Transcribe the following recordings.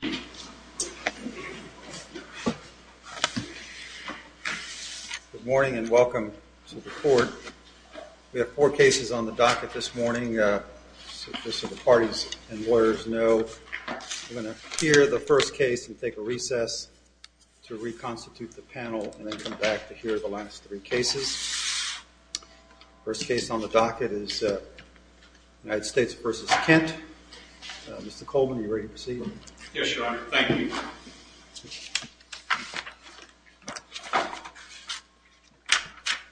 Good morning and welcome to the court. We have four cases on the docket this morning. Just so the parties and lawyers know, we're going to hear the first case and take a recess to reconstitute the panel and then come back to hear the last three cases. First case on the docket is United States v. Kent. Mr. Coleman, you ready to proceed? Yes, Your Honor. Thank you.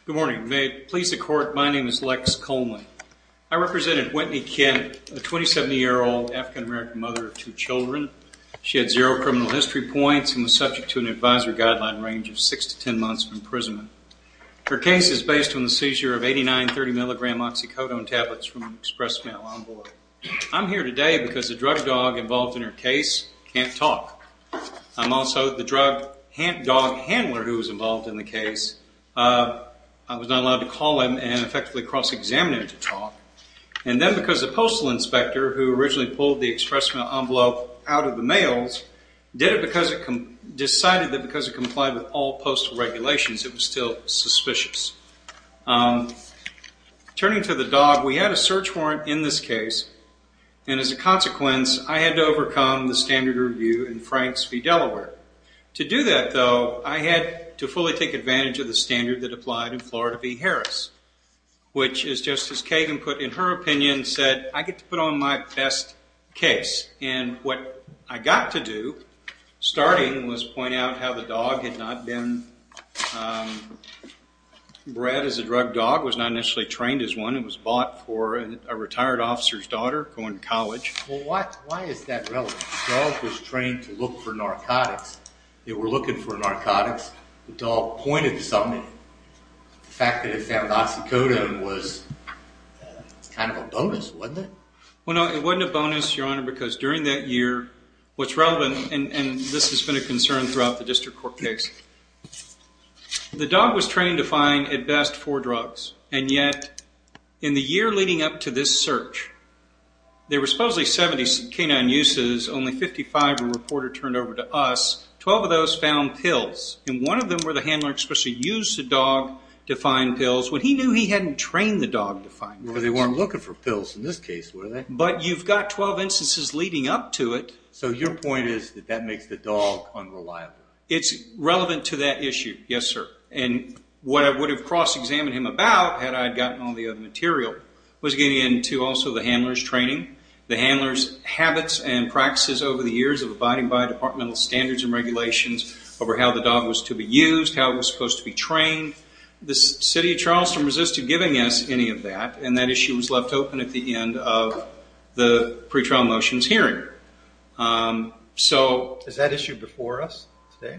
Good morning. May it please the court, my name is Lex Coleman. I represent Whitney Kent, a 27-year-old African-American mother of two children. She had zero criminal history points and was subject to an advisory guideline range of 6 to 10 months of imprisonment. Her case is based on the seizure of 89 30-milligram oxycodone tablets from an express mail on-board. I'm here today because the drug dog involved in her case can't talk. I'm also the drug dog handler who was involved in the case. I was not allowed to call him and effectively cross-examine him to talk. And then because the postal inspector who originally pulled the express mail envelope out of the mails decided that because it complied with all postal regulations, it was still suspicious. Turning to the dog, we had a search warrant in this case. And as a consequence, I had to overcome the standard review in Franks v. Delaware. To do that, though, I had to fully take advantage of the standard that applied in Florida v. Harris, which is just as Kagan put in her opinion, said, I get to put on my best case. And what I got to do starting was point out how the dog had not been bred as a drug dog, was not initially trained as one. It was bought for a retired officer's daughter going to college. Well, why is that relevant? The dog was trained to look for narcotics. They were looking for narcotics. The dog pointed to something. The fact that it found oxycodone was kind of a bonus, wasn't it? Well, no, it wasn't a bonus, Your Honor, because during that year, what's relevant, and this has been a concern throughout the district court case, the dog was trained to find, at best, four drugs. And yet, in the year leading up to this search, there were supposedly 70 canine uses, only 55 were reported turned over to us. Twelve of those found pills. And one of them where the handler especially used the dog to find pills when he knew he hadn't trained the dog to find pills. Well, they weren't looking for pills in this case, were they? But you've got 12 instances leading up to it. So your point is that that makes the dog unreliable. It's relevant to that issue, yes, sir. And what I would have cross-examined him about, had I gotten all the other material, was getting into also the handler's training, the handler's habits and practices over the years of abiding by departmental standards and regulations over how the dog was to be used, how it was supposed to be trained. The City of Charleston resisted giving us any of that, and that issue was left open at the end of the pretrial motions hearing. Is that issue before us today?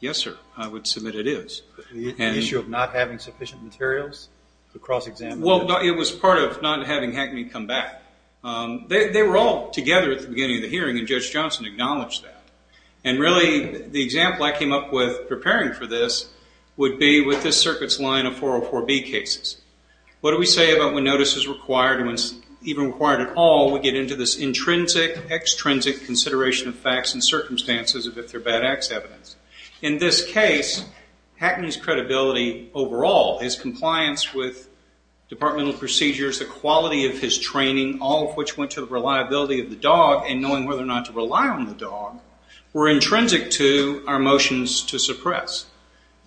Yes, sir. I would submit it is. The issue of not having sufficient materials to cross-examine? Well, it was part of not having Hackney come back. They were all together at the beginning of the hearing, and Judge Johnson acknowledged that. And really, the example I came up with preparing for this would be with this circuit's line of 404B cases. What do we say about when notice is required and when it's even required at all? We get into this intrinsic, extrinsic consideration of facts and circumstances of if they're bad acts evidence. In this case, Hackney's credibility overall, his compliance with departmental procedures, the quality of his training, all of which went to the reliability of the dog and knowing whether or not to rely on the dog, were intrinsic to our motions to suppress.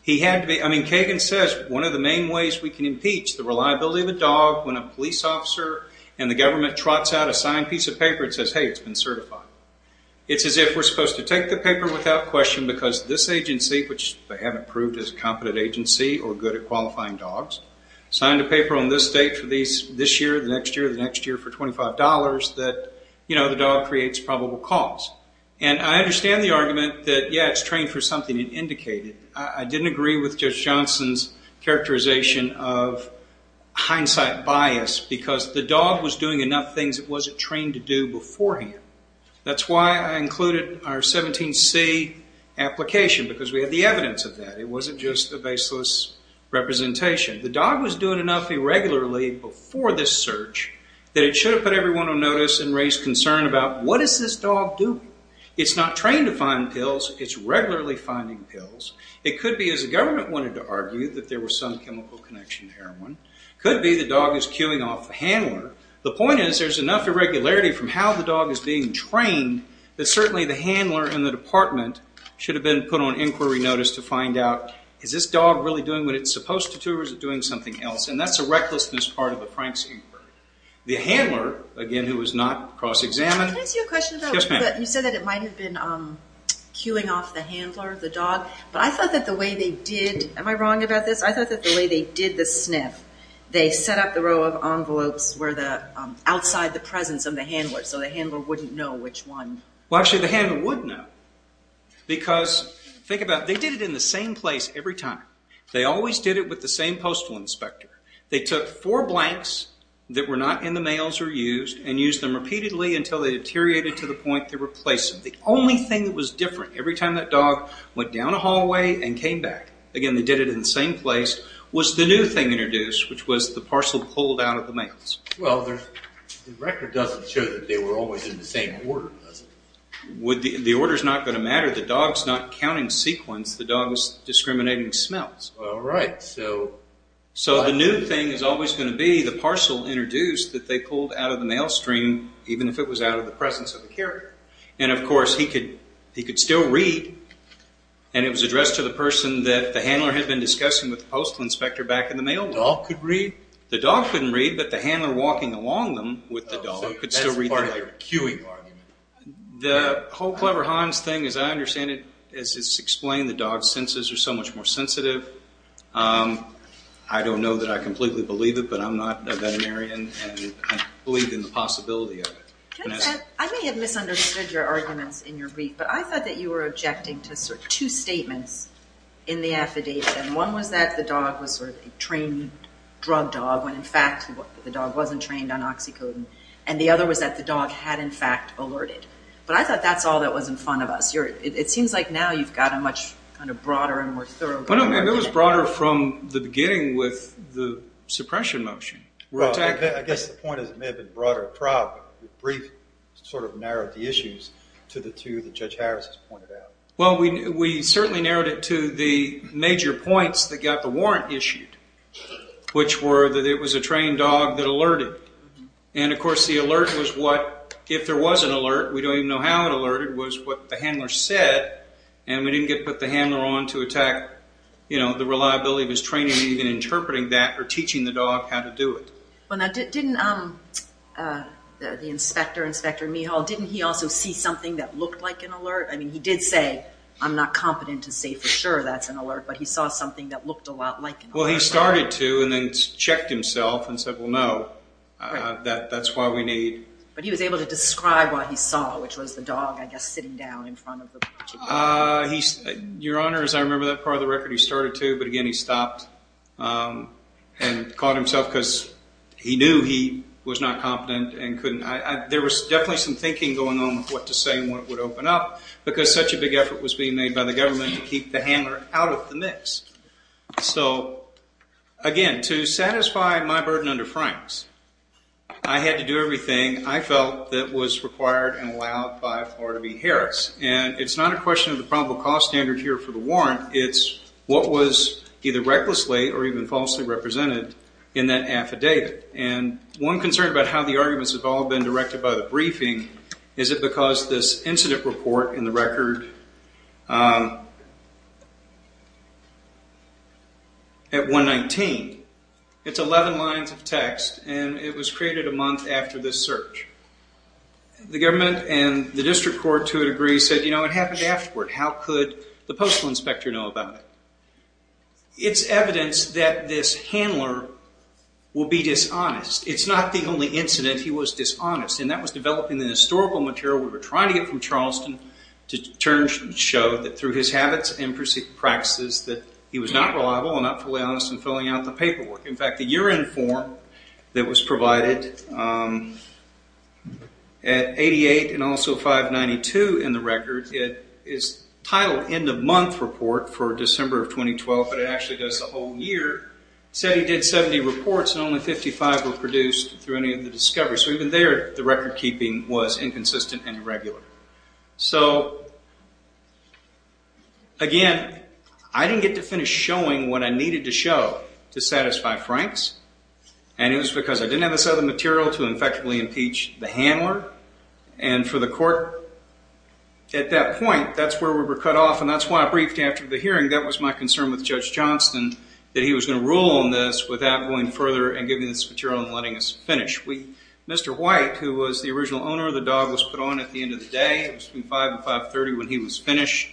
Kagan says one of the main ways we can impeach the reliability of a dog when a police officer and the government trots out a signed piece of paper and says, hey, it's been certified. It's as if we're supposed to take the paper without question because this agency, which they haven't proved is a competent agency or good at qualifying dogs, signed a paper on this date for this year, the next year, the next year for $25 that the dog creates probable cause. And I understand the argument that, yeah, it's trained for something it indicated. I didn't agree with Judge Johnson's characterization of hindsight bias because the dog was doing enough things it wasn't trained to do beforehand. That's why I included our 17C application because we have the evidence of that. It wasn't just a baseless representation. The dog was doing enough irregularly before this search that it should have put everyone on notice and raised concern about, what is this dog doing? It's not trained to find pills. It's regularly finding pills. It could be, as the government wanted to argue, that there was some chemical connection to heroin. It could be the dog is cueing off the handler. The point is there's enough irregularity from how the dog is being trained that certainly the handler and the department should have been put on inquiry notice to find out, is this dog really doing what it's supposed to do or is it doing something else? That's the recklessness part of the Franks inquiry. The handler, again, who was not cross-examined. Can I ask you a question? Yes, ma'am. You said that it might have been cueing off the handler, the dog, but I thought that the way they did, am I wrong about this? I thought that the way they did the sniff, they set up the row of envelopes outside the presence of the handler so the handler wouldn't know which one. Actually, the handler would know because, think about it, they did it in the same place every time. They always did it with the same postal inspector. They took four blanks that were not in the mails or used and used them repeatedly until they deteriorated to the point they replaced them. The only thing that was different every time that dog went down a hallway and came back, again, they did it in the same place, was the new thing introduced, which was the parcel pulled out of the mails. Well, the record doesn't show that they were always in the same order, does it? The order is not going to matter. The dog is not counting sequence. The dog is discriminating smells. All right. So the new thing is always going to be the parcel introduced that they pulled out of the mail stream, even if it was out of the presence of the carrier. And, of course, he could still read, and it was addressed to the person that the handler had been discussing with the postal inspector back in the mail room. The dog could read? The dog couldn't read, but the handler walking along them with the dog could still read the letter. That's part of the cueing argument. The whole Clever Hans thing, as I understand it, it's explained the dog's senses are so much more sensitive. I don't know that I completely believe it, but I'm not a veterinarian, and I believe in the possibility of it. I may have misunderstood your arguments in your brief, but I thought that you were objecting to sort of two statements in the affidavit, and one was that the dog was sort of a trained drug dog when, in fact, the dog wasn't trained on oxycodone, and the other was that the dog had, in fact, alerted. But I thought that's all that was in front of us. It seems like now you've got a much kind of broader and more thorough argument. It was broader from the beginning with the suppression motion. Well, I guess the point is it may have been broader across, but your brief sort of narrowed the issues to the two that Judge Harris has pointed out. Well, we certainly narrowed it to the major points that got the warrant issued, which were that it was a trained dog that alerted, and, of course, the alert was what, if there was an alert, we don't even know how it alerted, was what the handler said, and we didn't get to put the handler on to attack the reliability of his training and even interpreting that or teaching the dog how to do it. Well, now, didn't the inspector, Inspector Mehal, didn't he also see something that looked like an alert? I mean, he did say, I'm not competent to say for sure that's an alert, but he saw something that looked a lot like an alert. Well, he started to and then checked himself and said, well, no, that's why we need... But he was able to describe what he saw, which was the dog, I guess, sitting down in front of the... Your Honor, as I remember that part of the record, he started to, but, again, he stopped and caught himself because he knew he was not competent and couldn't... There was definitely some thinking going on with what to say and what would open up because such a big effort was being made by the government to keep the handler out of the mix. So, again, to satisfy my burden under Franks, I had to do everything I felt that was required and allowed by Florida v. Harris. And it's not a question of the probable cause standard here for the warrant. It's what was either recklessly or even falsely represented in that affidavit. And one concern about how the arguments have all been directed by the briefing is it because this incident report in the record at 119, it's 11 lines of text and it was created a month after this search. The government and the district court, to a degree, said, you know, it happened afterward. How could the postal inspector know about it? It's evidence that this handler will be dishonest. It's not the only incident he was dishonest, and that was developing the historical material we were trying to get from Charleston to show that through his habits and practices that he was not reliable and not fully honest in filling out the paperwork. In fact, the year-end form that was provided at 88 and also 592 in the record, it is titled End of Month Report for December of 2012, but it actually goes the whole year, said he did 70 reports and only 55 were produced through any of the discoveries. So even there, the record-keeping was inconsistent and irregular. So, again, I didn't get to finish showing what I needed to show to satisfy Frank's, and it was because I didn't have this other material to effectively impeach the handler, and for the court at that point, that's where we were cut off, and that's why I briefed after the hearing. That was my concern with Judge Johnston, that he was going to rule on this without going further and giving this material and letting us finish. Mr. White, who was the original owner of the dog, was put on at the end of the day. It was between 5 and 5.30 when he was finished,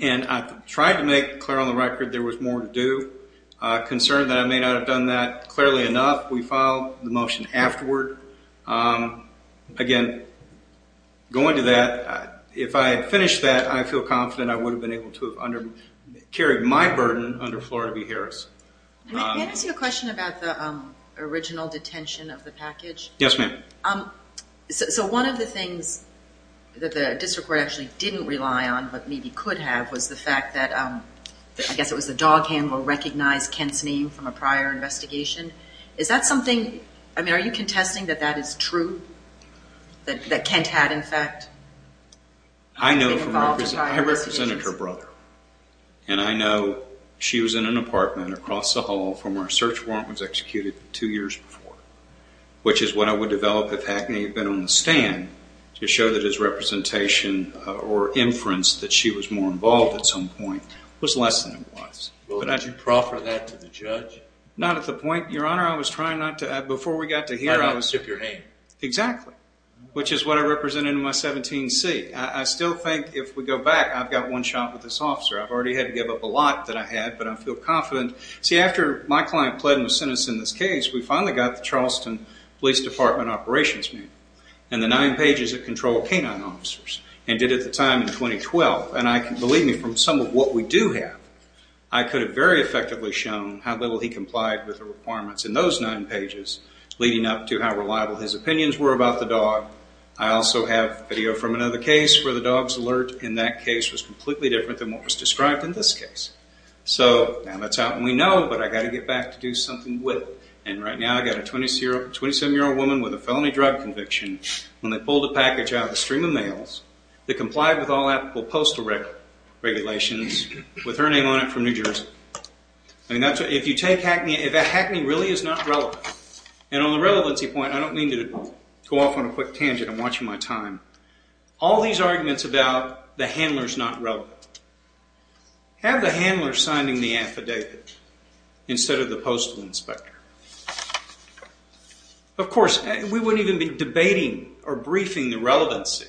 and I tried to make clear on the record there was more to do. Concerned that I may not have done that clearly enough, we filed the motion afterward. Again, going to that, if I had finished that, I feel confident I would have been able to have carried my burden under Florida v. Harris. May I ask you a question about the original detention of the package? Yes, ma'am. So one of the things that the district court actually didn't rely on, but maybe could have, was the fact that, I guess it was the dog handler recognized Kent's name from a prior investigation. Is that something, I mean, are you contesting that that is true, that Kent had, in fact, been involved in prior investigations? And I know she was in an apartment across the hall from where a search warrant was executed two years before, which is what I would develop if Hackney had been on the stand to show that his representation or inference that she was more involved at some point was less than it was. Well, did you proffer that to the judge? Not at the point, Your Honor. I was trying not to. Before we got to here, I was... Why not stick your hand? Exactly, which is what I represented in my 17C. I still think if we go back, I've got one shot with this officer. I've already had to give up a lot that I had, but I feel confident. See, after my client pled and was sentenced in this case, we finally got the Charleston Police Department Operations Manual and the nine pages that control canine officers and did it at the time in 2012. And believe me, from some of what we do have, I could have very effectively shown how little he complied with the requirements I also have video from another case where the dog's alert in that case was completely different than what was described in this case. So now that's out and we know, but I've got to get back to do something with it. And right now I've got a 27-year-old woman with a felony drug conviction when they pulled a package out of a stream of mails that complied with all applicable postal regulations with her name on it from New Jersey. If you take Hackney, that Hackney really is not relevant. And on the relevancy point, I don't mean to go off on a quick tangent. I'm watching my time. All these arguments about the handler's not relevant. Have the handler signing the affidavit instead of the postal inspector. Of course, we wouldn't even be debating or briefing the relevancy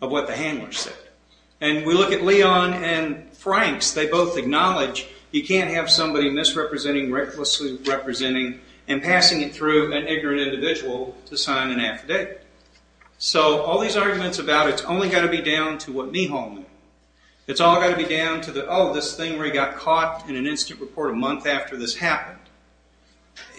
of what the handler said. And we look at Leon and Frank's. They both acknowledge you can't have somebody misrepresenting, recklessly representing, and passing it through an ignorant individual to sign an affidavit. So all these arguments about it's only got to be down to what Mehal knew. It's all got to be down to the, oh, this thing where he got caught in an instant report a month after this happened.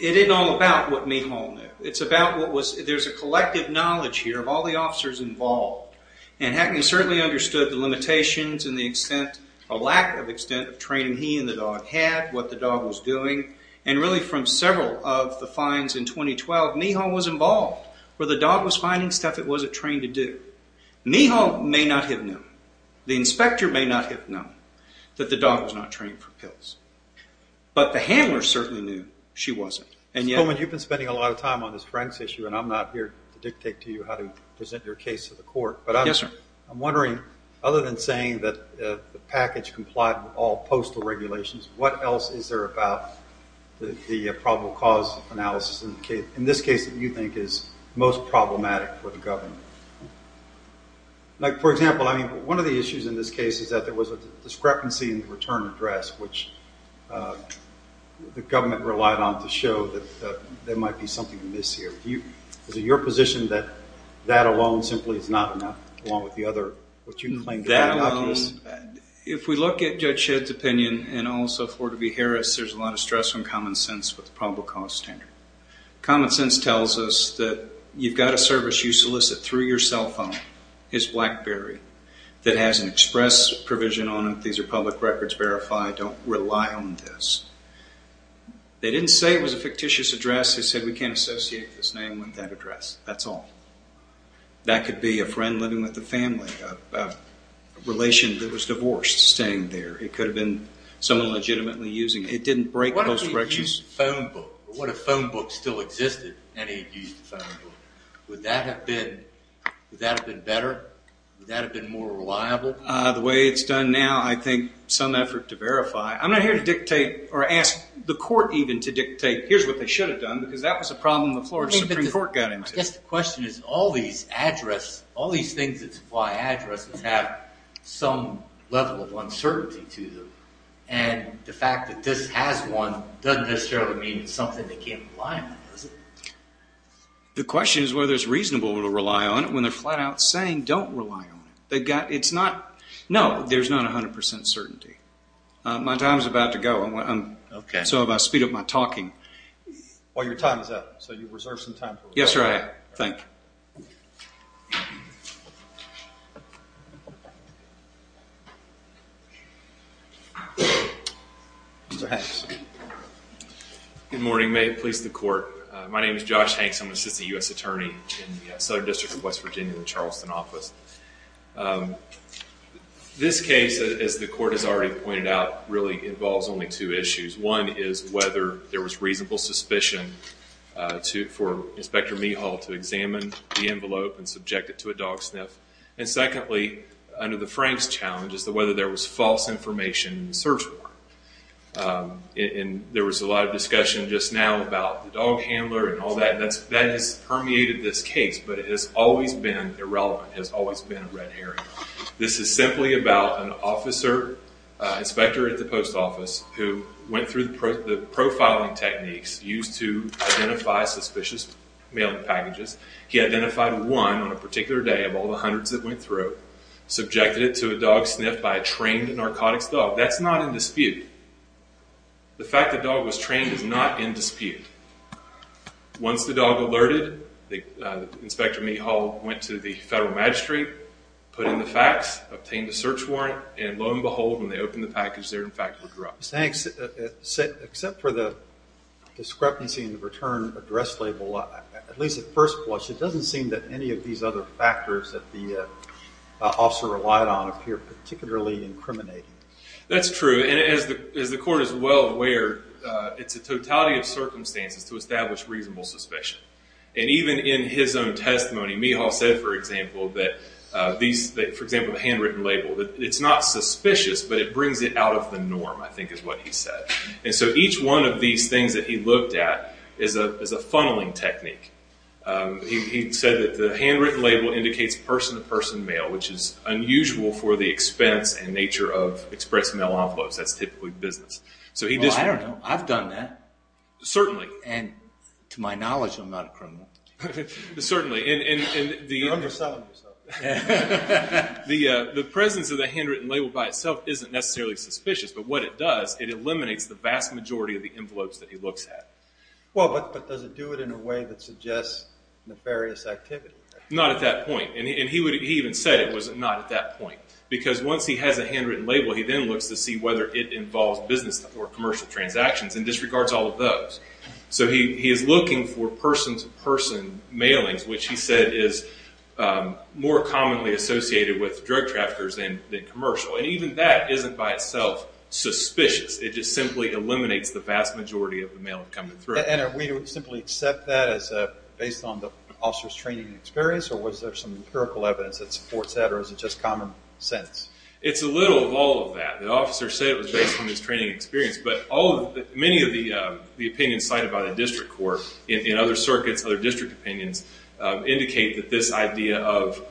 It isn't all about what Mehal knew. It's about what was... There's a collective knowledge here of all the officers involved. And Hackney certainly understood the limitations and the extent or lack of extent of training he and the dog had, what the dog was doing, and really from several of the finds in 2012, Mehal was involved. Where the dog was finding stuff it wasn't trained to do. Mehal may not have known. The inspector may not have known that the dog was not trained for pills. But the handler certainly knew she wasn't. Mr. Coleman, you've been spending a lot of time on this Frank's issue, and I'm not here to dictate to you how to present your case to the court. But I'm wondering, other than saying that the package complied with all postal regulations, what else is there about the probable cause analysis in this case that you think is most problematic for the government? Like, for example, I mean, one of the issues in this case is that there was a discrepancy in the return address, which the government relied on to show that there might be something amiss here. Is it your position that that alone simply is not enough, along with the other... That alone, if we look at Judge Shedd's opinion, and also Florida v. Harris, there's a lot of stress on common sense with the probable cause standard. Common sense tells us that you've got a service you solicit through your cell phone, his BlackBerry, that has an express provision on it. These are public records verified. Don't rely on this. They didn't say it was a fictitious address. They said we can't associate this name with that address. That's all. That could be a friend living with a family, a relation that was divorced, staying there. It could have been someone legitimately using it. It didn't break postal regulations. What if he used a phone book? What if a phone book still existed and he used a phone book? Would that have been better? Would that have been more reliable? The way it's done now, I think some effort to verify. I'm not here to dictate or ask the court even to dictate, here's what they should have done, because that was a problem the Florida Supreme Court got into. I guess the question is all these things that supply addresses have some level of uncertainty to them, and the fact that this has one doesn't necessarily mean it's something they can't rely on, does it? The question is whether it's reasonable to rely on it when they're flat out saying don't rely on it. No, there's not 100 percent certainty. My time is about to go, so if I speed up my talking. Well, your time is up, so you've reserved some time for us. Yes, sir, I have. Thank you. Mr. Hanks. Good morning. May it please the court. My name is Josh Hanks. I'm an assistant U.S. attorney in the Southern District of West Virginia in the Charleston office. This case, as the court has already pointed out, really involves only two issues. One is whether there was reasonable suspicion for Inspector Mehal to examine the envelope and subject it to a dog sniff. And secondly, under the Franks challenge, is whether there was false information in the search warrant. There was a lot of discussion just now about the dog handler and all that. That has permeated this case, but it has always been irrelevant, has always been a red herring. This is simply about an officer, inspector at the post office, who went through the profiling techniques used to identify suspicious mailing packages. He identified one on a particular day of all the hundreds that went through, subjected it to a dog sniff by a trained narcotics dog. That's not in dispute. The fact the dog was trained is not in dispute. Once the dog alerted, Inspector Mehal went to the federal magistrate, put in the facts, obtained the search warrant, and lo and behold, when they opened the package, there in fact were drugs. Thanks. Except for the discrepancy in the return address label, at least at first blush, it doesn't seem that any of these other factors that the officer relied on appear particularly incriminating. That's true. As the court is well aware, it's a totality of circumstances to establish reasonable suspicion. Even in his own testimony, Mehal said, for example, the handwritten label. It's not suspicious, but it brings it out of the norm, I think is what he said. Each one of these things that he looked at is a funneling technique. He said that the handwritten label indicates person-to-person mail, which is unusual for the expense and nature of express mail envelopes. That's typically business. Well, I don't know. I've done that. Certainly. And to my knowledge, I'm not a criminal. Certainly. You're overselling yourself. The presence of the handwritten label by itself isn't necessarily suspicious, but what it does, it eliminates the vast majority of the envelopes that he looks at. But does it do it in a way that suggests nefarious activity? Not at that point. He even said it was not at that point, because once he has a handwritten label, he then looks to see whether it involves business or commercial transactions and disregards all of those. He is looking for person-to-person mailings, which he said is more commonly associated with drug traffickers than commercial. Even that isn't by itself suspicious. It just simply eliminates the vast majority of the mail coming through. And are we to simply accept that as based on the officer's training and experience, or was there some empirical evidence that supports that, or is it just common sense? It's a little of all of that. The officer said it was based on his training and experience, but many of the opinions cited by the district court in other circuits, other district opinions, indicate that this idea of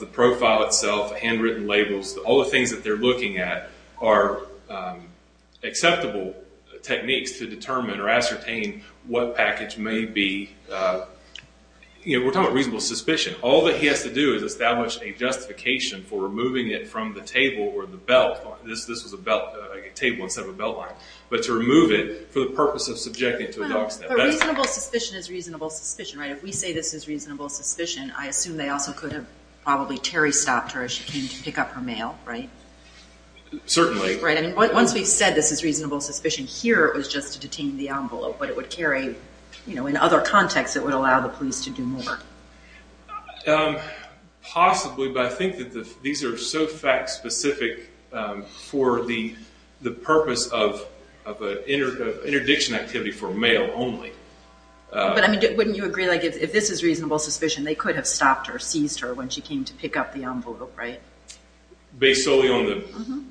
the profile itself, handwritten labels, all the things that they're looking at are acceptable techniques to determine or ascertain what package may be. We're talking about reasonable suspicion. All that he has to do is establish a justification for removing it from the table or the belt. This was a table instead of a belt line. But to remove it for the purpose of subjecting it to a dog snap. But reasonable suspicion is reasonable suspicion, right? If we say this is reasonable suspicion, I assume they also could have probably Terry stopped her as she came to pick up her mail, right? Certainly. Right. Once we've said this is reasonable suspicion, here it was just to detain the envelope, but it would carry, you know, in other contexts it would allow the police to do more. Possibly, but I think that these are so fact specific for the purpose of an interdiction activity for mail only. But, I mean, wouldn't you agree, like, if this is reasonable suspicion, they could have stopped or seized her when she came to pick up the envelope, right? Based solely on the...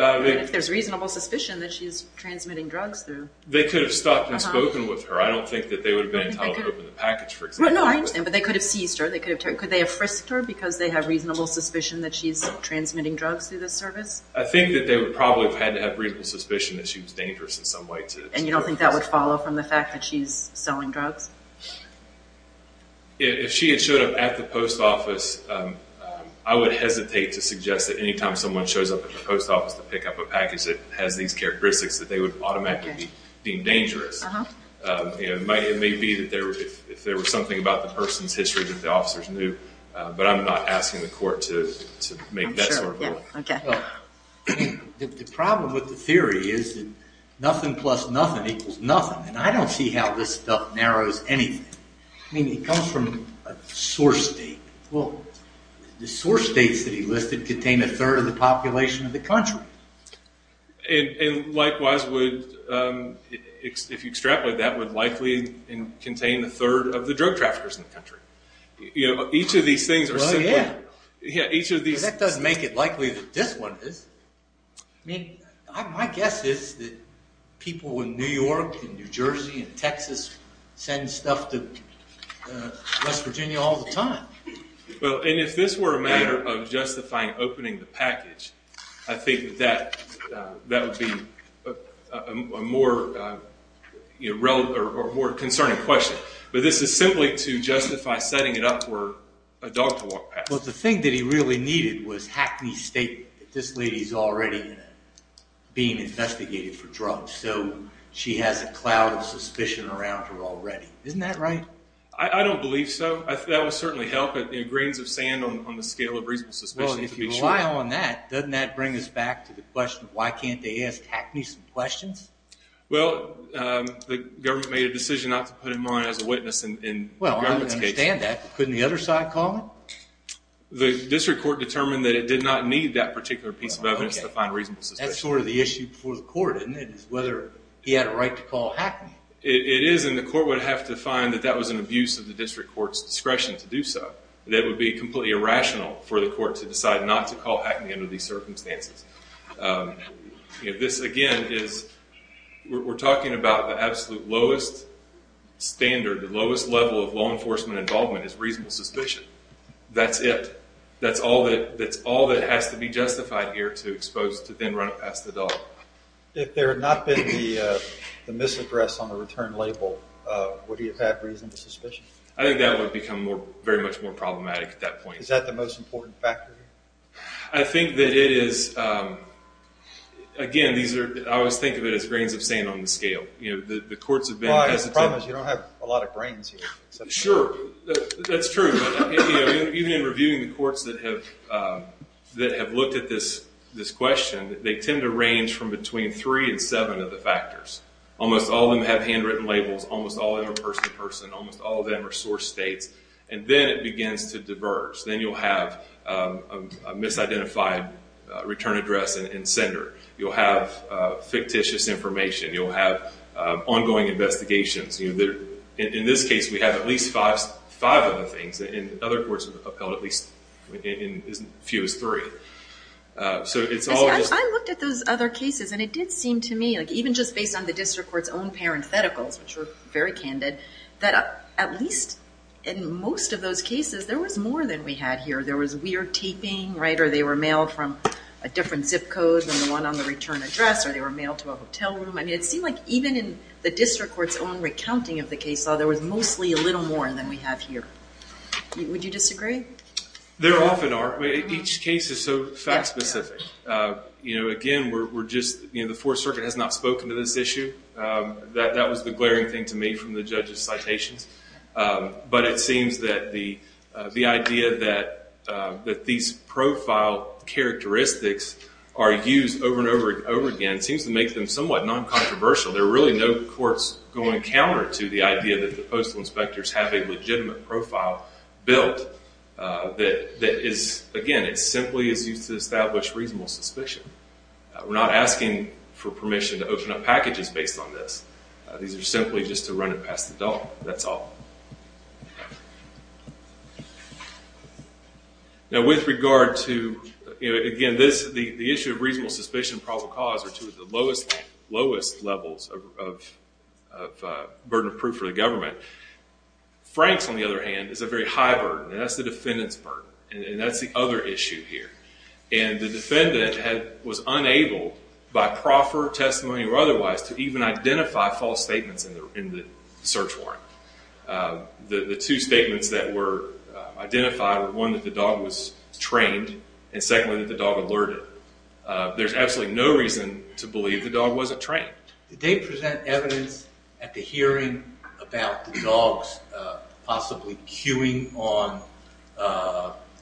If there's reasonable suspicion that she's transmitting drugs through... They could have stopped and spoken with her. I don't think that they would have been entitled to open the package, for example. No, I understand, but they could have seized her. Could they have frisked her because they have reasonable suspicion that she's transmitting drugs through the service? I think that they would probably have had to have reasonable suspicion that she was dangerous in some way to... And you don't think that would follow from the fact that she's selling drugs? If she had showed up at the post office, I would hesitate to suggest that any time someone shows up at the post office to pick up a package that has these characteristics, that they would automatically be deemed dangerous. It may be that if there was something about the person's history that the officers knew, but I'm not asking the court to make that sort of a rule. The problem with the theory is that nothing plus nothing equals nothing, and I don't see how this stuff narrows anything. I mean, it comes from a source state. Well, the source states that he listed contain a third of the population of the country. And likewise would... If you extrapolate, that would likely contain a third of the drug traffickers in the country. Each of these things are simply... Because that doesn't make it likely that this one is. I mean, my guess is that people in New York and New Jersey and Texas send stuff to West Virginia all the time. Well, and if this were a matter of justifying opening the package, I think that that would be a more concerning question. But this is simply to justify setting it up for a dog to walk past. Well, the thing that he really needed was Hackney's statement that this lady is already being investigated for drugs, so she has a cloud of suspicion around her already. Isn't that right? I don't believe so. That would certainly help, grains of sand on the scale of reasonable suspicion, to be sure. Well, if you rely on that, doesn't that bring us back to the question of why can't they ask Hackney some questions? Well, the government made a decision not to put him on as a witness in the government's case. I understand that. Couldn't the other side call it? The district court determined that it did not need that particular piece of evidence to find reasonable suspicion. That's sort of the issue before the court, isn't it, is whether he had a right to call Hackney. It is, and the court would have to find that that was an abuse of the district court's discretion to do so. That would be completely irrational for the court to decide not to call Hackney under these circumstances. This, again, is we're talking about the absolute lowest standard, the lowest level of law enforcement involvement is reasonable suspicion. That's it. That's all that has to be justified here to expose, to then run it past the dog. If there had not been the misaddress on the return label, would he have had reasonable suspicion? I think that would have become very much more problematic at that point. Is that the most important factor? I think that it is. Again, I always think of it as grains of sand on the scale. The courts have been hesitant. I promise you don't have a lot of grains here. Sure, that's true. Even in reviewing the courts that have looked at this question, they tend to range from between three and seven of the factors. Almost all of them have handwritten labels. Almost all of them are person-to-person. Almost all of them are source states, and then it begins to diverge. Then you'll have a misidentified return address and sender. You'll have fictitious information. You'll have ongoing investigations. In this case, we have at least five of the things. Other courts have upheld at least as few as three. I looked at those other cases, and it did seem to me, even just based on the district court's own parentheticals, which were very candid, that at least in most of those cases, there was more than we had here. There was weird taping, or they were mailed from a different zip code than the one on the return address, or they were mailed to a hotel room. It seemed like even in the district court's own recounting of the case law, there was mostly a little more than we have here. Would you disagree? There often are. Each case is so fact-specific. Again, the Fourth Circuit has not spoken to this issue. That was the glaring thing to me from the judges' citations. But it seems that the idea that these profile characteristics are used over and over again seems to make them somewhat non-controversial. There are really no courts going counter to the idea that the postal inspectors have a legitimate profile built that is, again, simply is used to establish reasonable suspicion. We're not asking for permission to open up packages based on this. These are simply just to run it past the door. That's all. Now with regard to, again, the issue of reasonable suspicion and probable cause are two of the lowest levels of burden of proof for the government. Frank's, on the other hand, is a very high burden, and that's the defendant's burden. And that's the other issue here. And the defendant was unable, by proffer, testimony, or otherwise, to even identify false statements in the search warrant. The two statements that were identified were one, that the dog was trained, and secondly, that the dog alerted. There's absolutely no reason to believe the dog wasn't trained. Did they present evidence at the hearing about the dogs possibly cueing on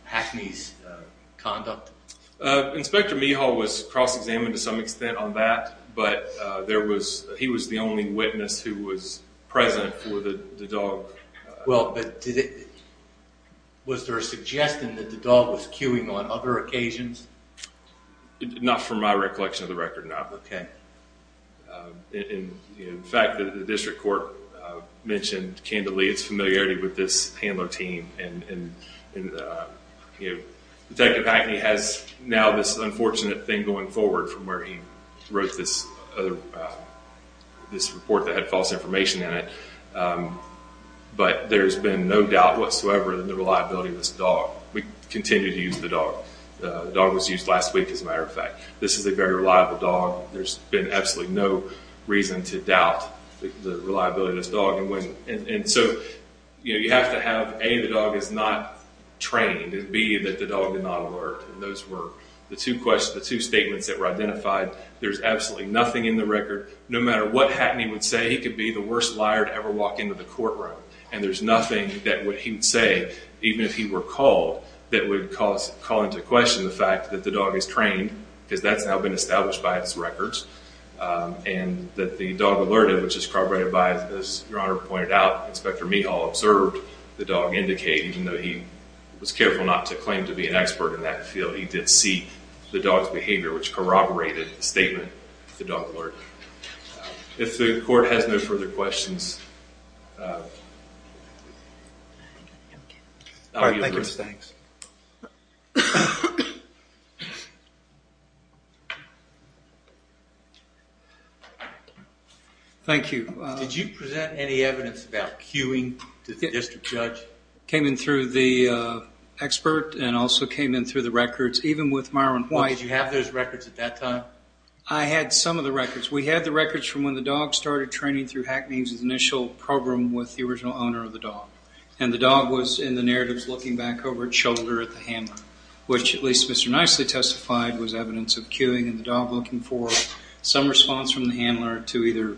Hackney's conduct? Inspector Mehal was cross-examined to some extent on that, but he was the only witness who was present for the dog. Well, but was there a suggestion that the dog was cueing on other occasions? Not from my recollection of the record, no. In fact, the district court mentioned candidly its familiarity with this handler team. Detective Hackney has now this unfortunate thing going forward from where he wrote this report that had false information in it. But there's been no doubt whatsoever that the reliability of this dog. We continue to use the dog. The dog was used last week, as a matter of fact. This is a very reliable dog. There's been absolutely no reason to doubt the reliability of this dog. And so you have to have, A, the dog is not trained, and B, that the dog did not alert. And those were the two statements that were identified. There's absolutely nothing in the record. No matter what Hackney would say, he could be the worst liar to ever walk into the courtroom. And there's nothing that he would say, even if he were called, that would call into question the fact that the dog is trained, because that's now been established by its records, and that the dog alerted, which is corroborated by, as Your Honor pointed out, Inspector Meehaw observed the dog indicate, even though he was careful not to claim to be an expert in that field. He did see the dog's behavior, which corroborated the statement, the dog alert. If the court has no further questions, I'll give the rest. All right, thank you. Thanks. Thank you. Did you present any evidence about cueing to the district judge? Came in through the expert, and also came in through the records, even with Myron White. Did you have those records at that time? I had some of the records. We had the records from when the dog started training through Hackney's initial program with the original owner of the dog. And the dog was, in the narratives, looking back over its shoulder at the handler, which, at least Mr. Nicely testified, was evidence of cueing, and the dog looking for some response from the handler to either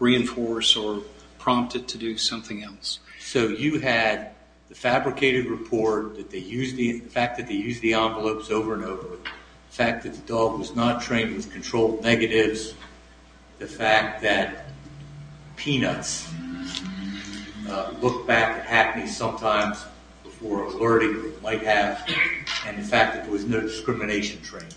reinforce or prompt it to do something else. So you had the fabricated report, the fact that they used the envelopes over and over, the fact that the dog was not trained with controlled negatives, the fact that Peanuts looked back at Hackney sometimes for alerting or might have, and the fact that there was no discrimination training.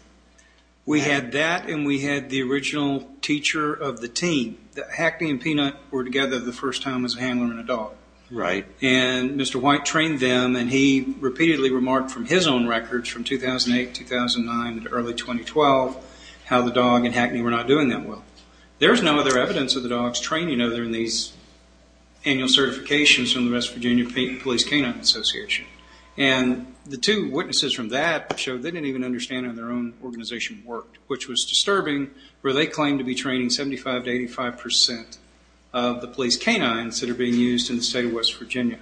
We had that, and we had the original teacher of the team. Hackney and Peanut were together the first time as a handler and a dog. And Mr. White trained them, and he repeatedly remarked from his own records from 2008, 2009, and early 2012 how the dog and Hackney were not doing that well. There is no other evidence of the dogs training other than these annual certifications from the West Virginia Police Canine Association. And the two witnesses from that showed they didn't even understand how their own organization worked, which was disturbing, where they claimed to be training 75% to 85% of the police canines that are being used in the state of West Virginia.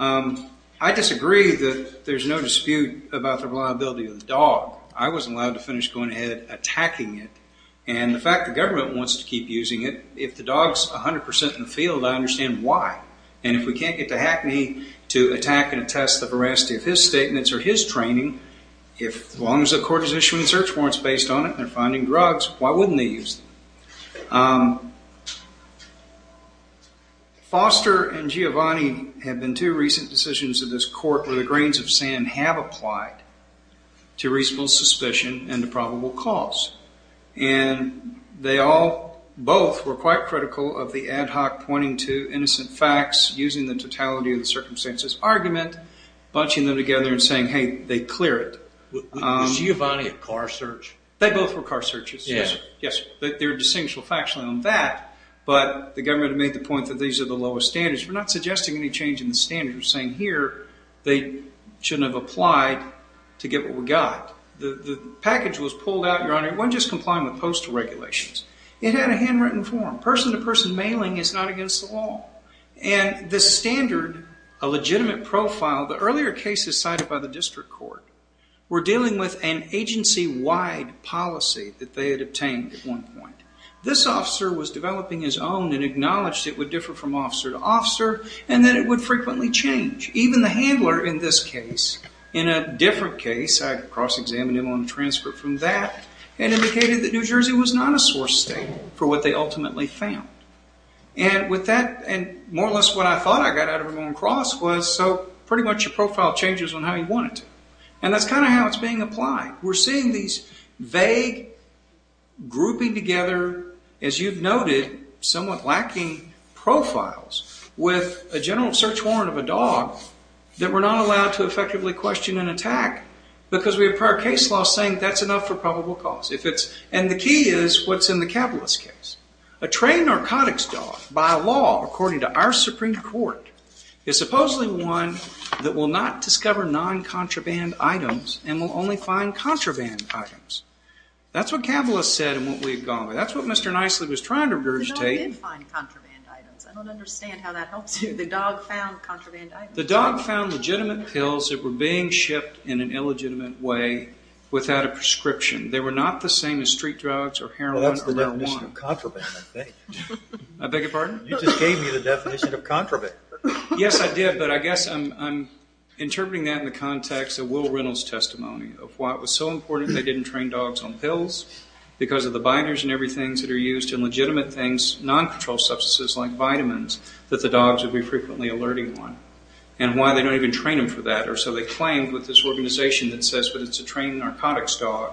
I disagree that there's no dispute about the reliability of the dog. I wasn't allowed to finish going ahead attacking it. And the fact the government wants to keep using it, if the dog's 100% in the field, I understand why. And if we can't get Hackney to attack and attest the veracity of his statements or his training, as long as the court is issuing search warrants based on it and they're finding drugs, why wouldn't they use them? Foster and Giovanni have been two recent decisions of this court where the grains of sand have applied to reasonable suspicion and to probable cause. And they all, both, were quite critical of the ad hoc pointing to innocent facts, using the totality of the circumstances argument, bunching them together and saying, hey, they clear it. Was Giovanni a car search? They both were car searches. Yes, sir. Yes, sir. They're distinguishable facts on that, but the government had made the point that these are the lowest standards. We're not suggesting any change in the standards. We're saying here they shouldn't have applied to get what we got. The package was pulled out, Your Honor, it wasn't just complying with postal regulations. It had a handwritten form. Person-to-person mailing is not against the law. And the standard, a legitimate profile, the earlier cases cited by the district court, were dealing with an agency-wide policy that they had obtained at one point. This officer was developing his own and acknowledged it would differ from officer to officer and that it would frequently change. Even the handler in this case, in a different case, I had cross-examined him on a transcript from that and indicated that New Jersey was not a source state for what they ultimately found. And with that, and more or less what I thought I got out of it going across, was so pretty much your profile changes on how you want it to. And that's kind of how it's being applied. We're seeing these vague, grouping together, as you've noted, somewhat lacking profiles with a general search warrant of a dog that we're not allowed to effectively question and attack because we have prior case law saying that's enough for probable cause. And the key is what's in the Kabbalist case. A trained narcotics dog, by law, according to our Supreme Court, is supposedly one that will not discover non-contraband items and will only find contraband items. That's what Kabbalist said and what we had gone with. That's what Mr. Nicely was trying to regurgitate. The dog did find contraband items. I don't understand how that helps you. The dog found contraband items. The dog found legitimate pills that were being shipped in an illegitimate way without a prescription. They were not the same as street drugs or heroin or L-1. You gave me the definition of contraband, I think. I beg your pardon? You just gave me the definition of contraband. Yes, I did, but I guess I'm interpreting that in the context of Will Reynolds' testimony of why it was so important they didn't train dogs on pills because of the binders and everything that are used in legitimate things, non-controlled substances like vitamins, that the dogs would be frequently alerting one and why they don't even train them for that. Or so they claim with this organization that says it's a trained narcotics dog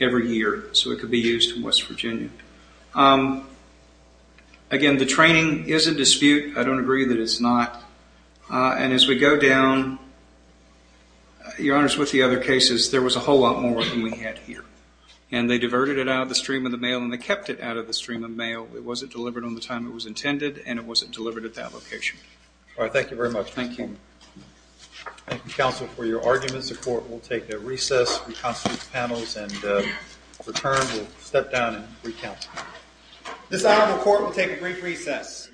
every year so it could be used in West Virginia. Again, the training is a dispute. I don't agree that it's not. And as we go down, Your Honors, with the other cases, there was a whole lot more than we had here. And they diverted it out of the stream of the mail and they kept it out of the stream of mail. It wasn't delivered on the time it was intended and it wasn't delivered at that location. All right, thank you very much. Thank you. Thank you, counsel, for your arguments. The court will take a recess, reconstitute panels, and return. We'll step down and recount. This honorable court will take a brief recess.